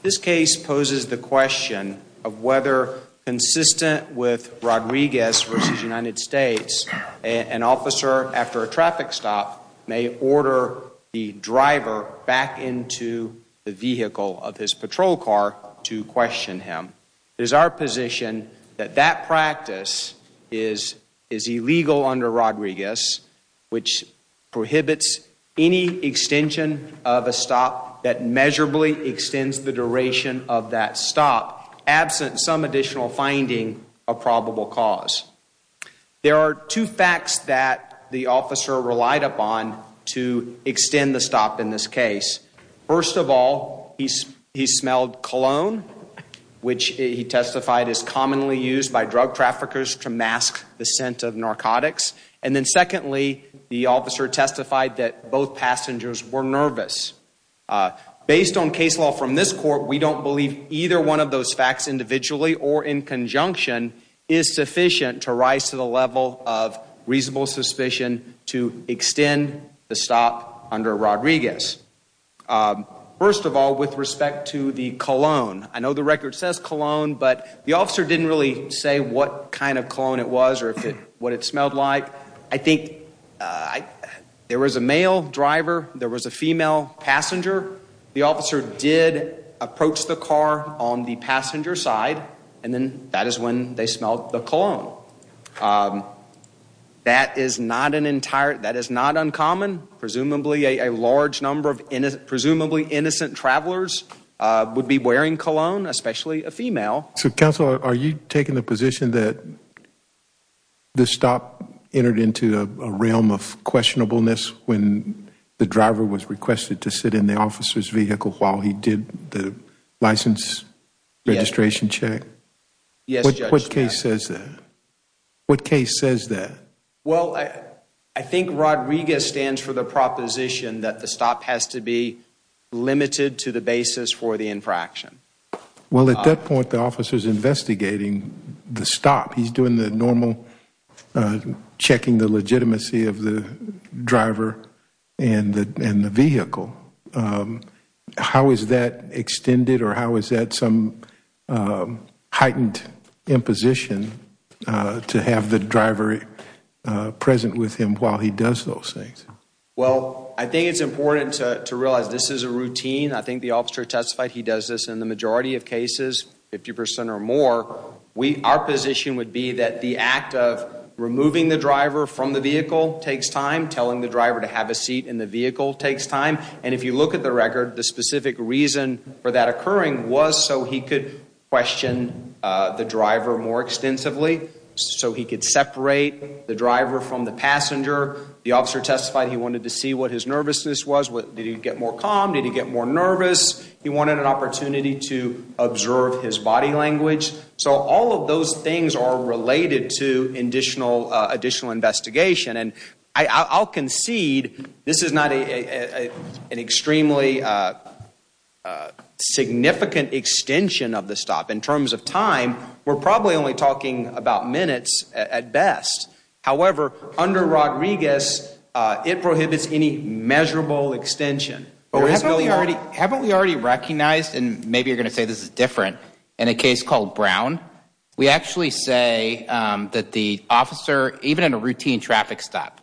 This case poses the question of whether, consistent with Rodriguez v. United States, an officer after a traffic stop may order the driver back into the vehicle of his patrol car to is illegal under Rodriguez, which prohibits any extension of a stop that measurably extends the duration of that stop, absent some additional finding of probable cause. There are two facts that the officer relied upon to extend the stop in this case. First of all, he smelled cologne, which he testified is commonly used by drug traffickers to mask the scent of narcotics. And then secondly, the officer testified that both passengers were nervous. Based on case law from this court, we don't believe either one of those facts individually or in conjunction is sufficient to rise to the level of reasonable suspicion to extend the stop under Rodriguez. Um, first of all, with respect to the cologne, I know the record says cologne, but the officer didn't really say what kind of cologne it was or what it smelled like. I think there was a male driver, there was a female passenger, the officer did approach the car on the passenger side, and then that is when they smelled the cologne. Um, that is not an entire, that is not uncommon, presumably a large number of, presumably innocent travelers would be wearing cologne, especially a female. So counsel, are you taking the position that the stop entered into a realm of questionableness when the driver was requested to sit in the officer's vehicle while he did the license registration check? Yes, Judge. What case says that? What case says that? Well, I think Rodriguez stands for the proposition that the stop has to be limited to the basis for the infraction. Well, at that point, the officer's investigating the stop. He's doing the normal checking the legitimacy of the driver and the vehicle. Um, how is that extended or how is that some heightened imposition to have the driver present with him while he does those things? Well, I think it's important to realize this is a routine. I think the officer testified he does this in the majority of cases, 50% or more. We, our position would be that the act of removing the driver from the vehicle takes time. Telling the driver to have a seat in the vehicle takes time. And if you look at the record, the specific reason for that occurring was so he could question the driver more extensively, so he could separate the driver from the passenger. The officer testified he wanted to see what his nervousness was. Did he get more calm? Did he get more nervous? He wanted an opportunity to I'll concede this is not an extremely significant extension of the stop in terms of time. We're probably only talking about minutes at best. However, under Rodriguez, it prohibits any measurable extension. Haven't we already recognized, and maybe you're going to say this is different, in a case called Brown, we actually say that the officer, even in a routine traffic stop,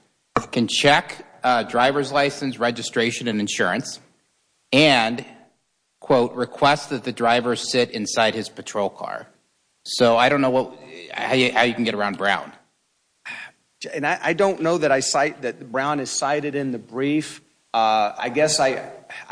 can check driver's license, registration, and insurance, and, quote, request that the driver sit inside his patrol car. So I don't know how you can get around Brown. I don't know that Brown is cited in the brief. I guess I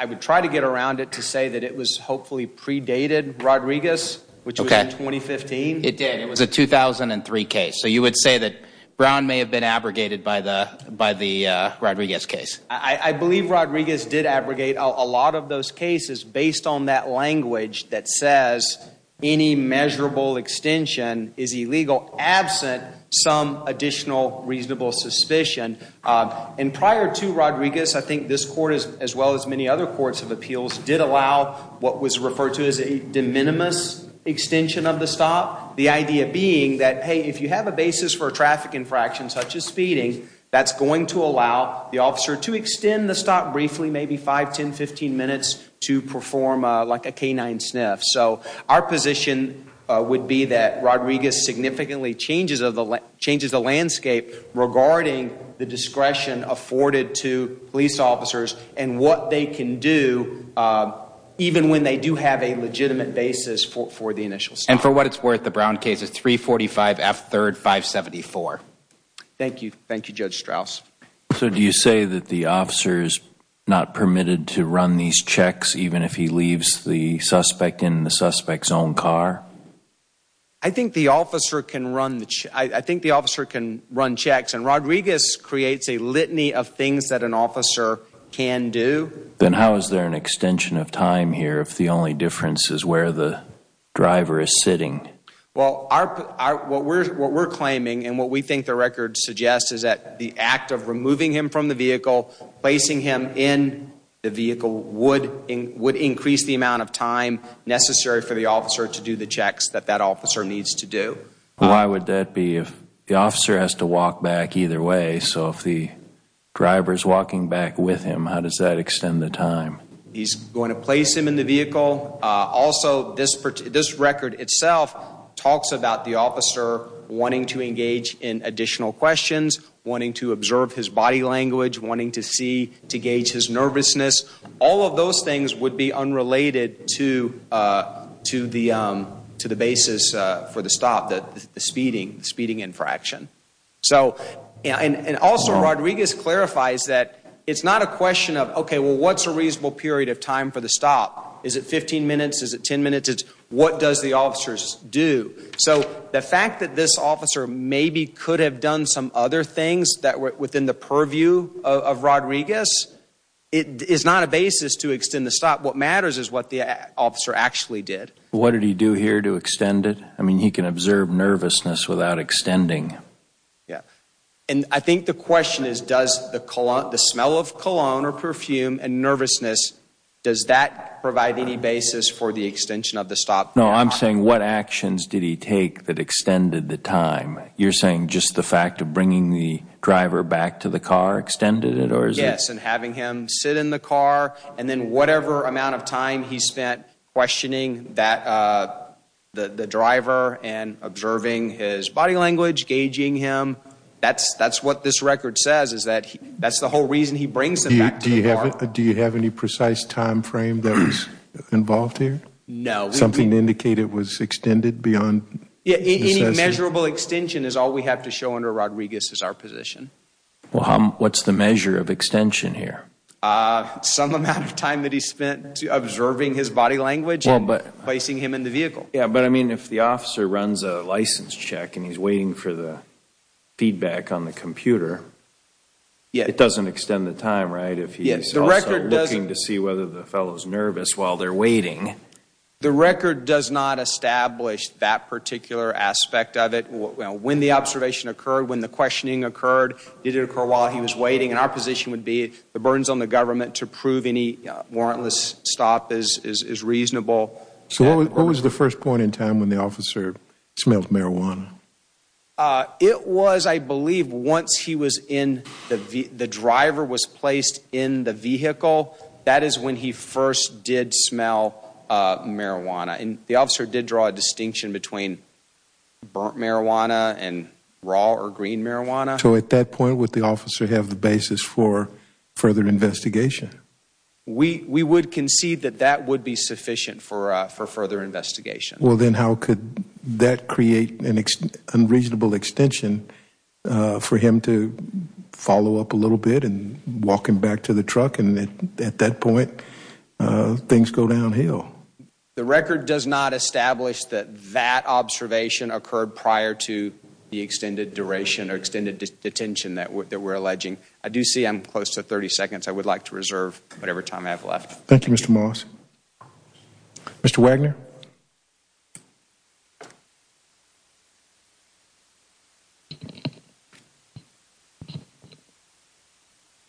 would try to get around it to say that it was hopefully predated Rodriguez, which was in 2015. It did. It was a 2003 case. So you would say that Brown may have been abrogated by the Rodriguez case. I believe Rodriguez did abrogate a lot of those cases based on that language that says any measurable extension is illegal, absent some additional reasonable suspicion. And prior to Rodriguez, I think this court, as well as many other courts of appeals, did allow what was referred to as a de minimis extension of the stop. The idea being that, hey, if you have a basis for a traffic infraction, such as speeding, that's going to allow the officer to extend the stop briefly, maybe 5, 10, 15 minutes, to perform like a canine sniff. So our position would be that Rodriguez significantly changes the landscape regarding the discretion afforded to police officers and what they can do, even when they do have a legitimate basis for the initial stop. And for what it's worth, the Brown case is 345 F 3rd 574. Thank you. Thank you, Judge Strauss. So do you say that the officer is not permitted to run these checks, even if he leaves the suspect in the suspect's own car? I think the officer can run checks. And Rodriguez creates a litany of things that an officer can do. Then how is there an extension of time here if the only difference is where the driver is sitting? Well, what we're claiming and what we think the record suggests is that the act of removing him from the vehicle, placing him in the vehicle would increase the amount of time necessary for the officer to do the checks that that officer needs to do. Why would that be? If the officer has to walk back either way, so if the He's going to place him in the vehicle. Also, this this record itself talks about the officer wanting to engage in additional questions, wanting to observe his body language, wanting to see to gauge his nervousness. All of those things would be unrelated to the to the basis for the stop, the speeding, speeding infraction. So and also Rodriguez clarifies that it's not a question of, OK, well, what's a reasonable period of time for the stop? Is it 15 minutes? Is it 10 minutes? What does the officers do? So the fact that this officer maybe could have done some other things that were within the purview of Rodriguez, it is not a basis to extend the stop. What matters is what the officer actually did. What did he do here to extend it? I mean, he can observe nervousness without extending. Yeah. And I think the question is, does the smell of cologne or perfume and nervousness, does that provide any basis for the extension of the stop? No, I'm saying what actions did he take that extended the time? You're saying just the fact of bringing the driver back to the car extended it? Or yes, and having him sit in the car and then whatever amount of time he spent questioning that the driver and observing his body language, gauging him, that's that's what this record says, is that that's the whole reason he brings them back. Do you have it? Do you have any precise time frame that was involved here? No. Something to indicate it was extended beyond? Yeah, any measurable extension is all we have to show under Rodriguez is our position. Well, what's the measure of extension here? Some amount of time that he spent observing his body language and placing him in the vehicle. Yeah, but I mean, if the officer runs a license check and he's waiting for the feedback on the computer, it doesn't extend the time, right? If he's also looking to see whether the fellow's nervous while they're waiting. The record does not establish that particular aspect of it. When the observation occurred, when the questioning occurred, did it occur while he was waiting? And our position would be the burdens on the government to prove any warrantless stop is reasonable. So what was the first point in time when the officer smelled marijuana? It was, I believe, once he was in the the driver was placed in the vehicle. That is when he first did smell marijuana. And the officer did draw a distinction between burnt marijuana and raw or green marijuana. So at that point, would the officer have the basis for further investigation? We would concede that that would be sufficient for further investigation. Well, then how could that create an unreasonable extension for him to follow up a little bit and walk him back to the truck? And at that point, things go downhill. The record does not establish that that observation occurred prior to the extended duration or extended detention that we're alleging. I do see I'm close to 30 seconds. I would like to reserve whatever time I have left. Thank you, Mr. Moss. Mr. Wagner.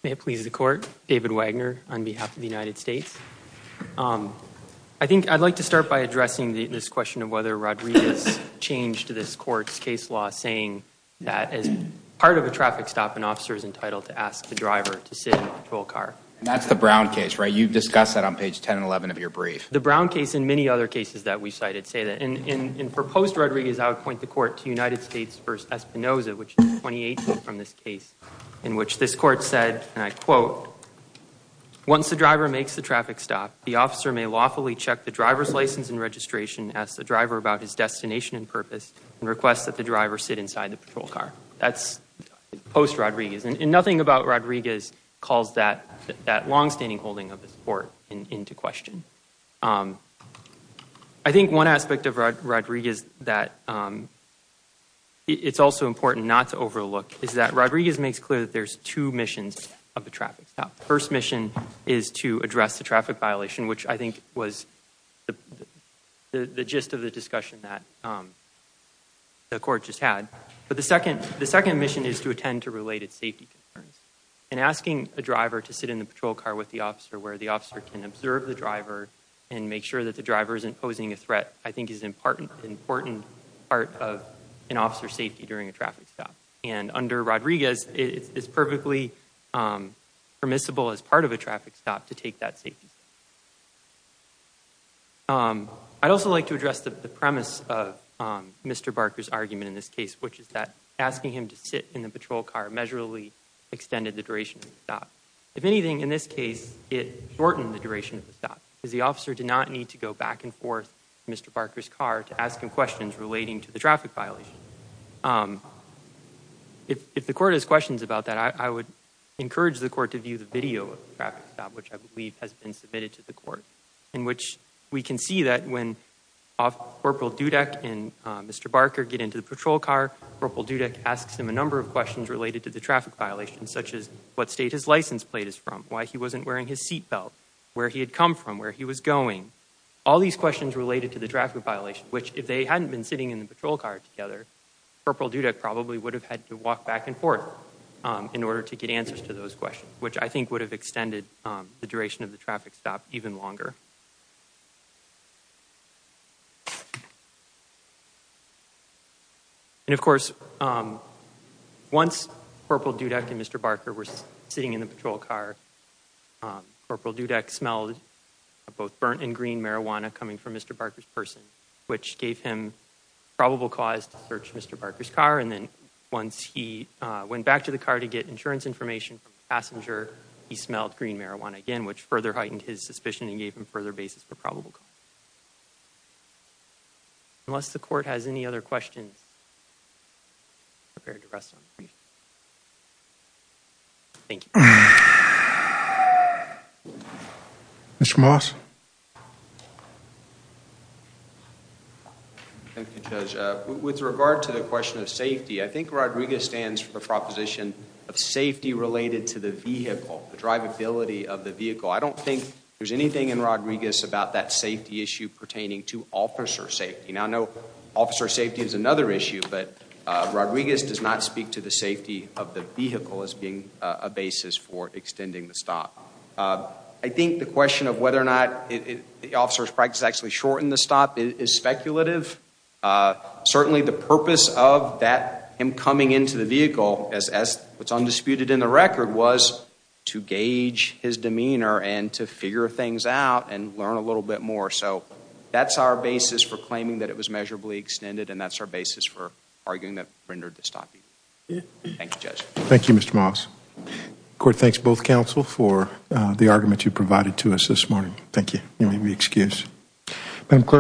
May it please the court. David Wagner on behalf of the United States. I think I'd like to start by addressing this question of whether Rodriguez changed this court's case law, saying that as part of a traffic stop, an officer is entitled to ask the driver to sit in a patrol car. That's the Brown case, right? You've discussed that on page 10 and 11 of your brief. The Brown case and many other cases that we cited say that. And in proposed Rodriguez, I would point the court to United States versus Espinoza, which is 28 from this case in which this court said, and I quote, once the driver makes the traffic stop, the officer may lawfully check the driver's license and registration, ask the driver about his destination and purpose, and request that the driver sit inside the patrol car. That's post Rodriguez. And nothing about Rodriguez calls that longstanding holding of the court into question. I think one aspect of Rodriguez that it's also important not to overlook is that Rodriguez makes clear that there's two missions of the traffic stop. First mission is to address the traffic violation, which I think was the gist of the discussion that the court just had. But the second mission is to attend to related safety concerns. And asking a driver to sit in the patrol car with the officer where the officer can observe the driver and make sure that the driver isn't posing a threat, I think is an important part of an officer's safety during a traffic stop. And under Rodriguez, it's perfectly permissible as part of a traffic stop to take that safety. I'd also like to address the premise of Mr. Barker's argument in this case, which is that asking him to sit in the patrol car measurably extended the duration of the stop. If anything, in this case, it shortened the duration of the stop because the officer did not need to go back and forth to Mr. Barker's car to ask him questions relating to the traffic violation. If the court has questions about that, I would encourage the court to view the video of the traffic stop, which I believe has been submitted to the court, in which we can see that when Corporal Dudek and Mr. Barker get into the patrol car, Corporal Dudek asks him a number of questions related to the traffic violation, such as what state his license plate is from, why he wasn't wearing his seatbelt, where he had come from, where he was going. All these questions related to the traffic violation, which if they hadn't been sitting in the patrol car together, Corporal Dudek probably would have had to walk back and forth in order to get answers to those questions, which I think would have extended the duration of the traffic stop even longer. And of course, once Corporal Dudek and Mr. Barker were sitting in the patrol car, Corporal Dudek smelled both burnt and green marijuana coming from Mr. Barker's person, which gave him probable cause to search Mr. Barker's car. And then once he went back to the car to get insurance information from the passenger, he smelled green marijuana again, which further heightened his suspicion and gave him further basis for probable cause. Unless the court has any other questions, I'm prepared to rest on my feet. Thank you. Mr. Moss? Thank you, Judge. With regard to the question of safety, I think Rodriguez stands for the proposition of safety related to the vehicle, the drivability of the vehicle. I don't think there's anything in Rodriguez about that safety issue pertaining to officer safety. Now, I know officer safety is another issue, but Rodriguez does not speak to the safety of the vehicle as being a basis for extending the stop. I think the question of whether or not the officer's practice actually shortened the stop is speculative. Certainly, the purpose of him coming into the vehicle, as what's undisputed in the record, was to gauge his demeanor and to figure things out and learn a little bit more. So that's our basis for claiming that it was measurably extended, and that's our basis for arguing that it rendered the stop. Thank you, Judge. Thank you, Mr. Moss. The court thanks both counsel for the argument you provided to us this morning. Thank you. You may be excused. Madam Clerk.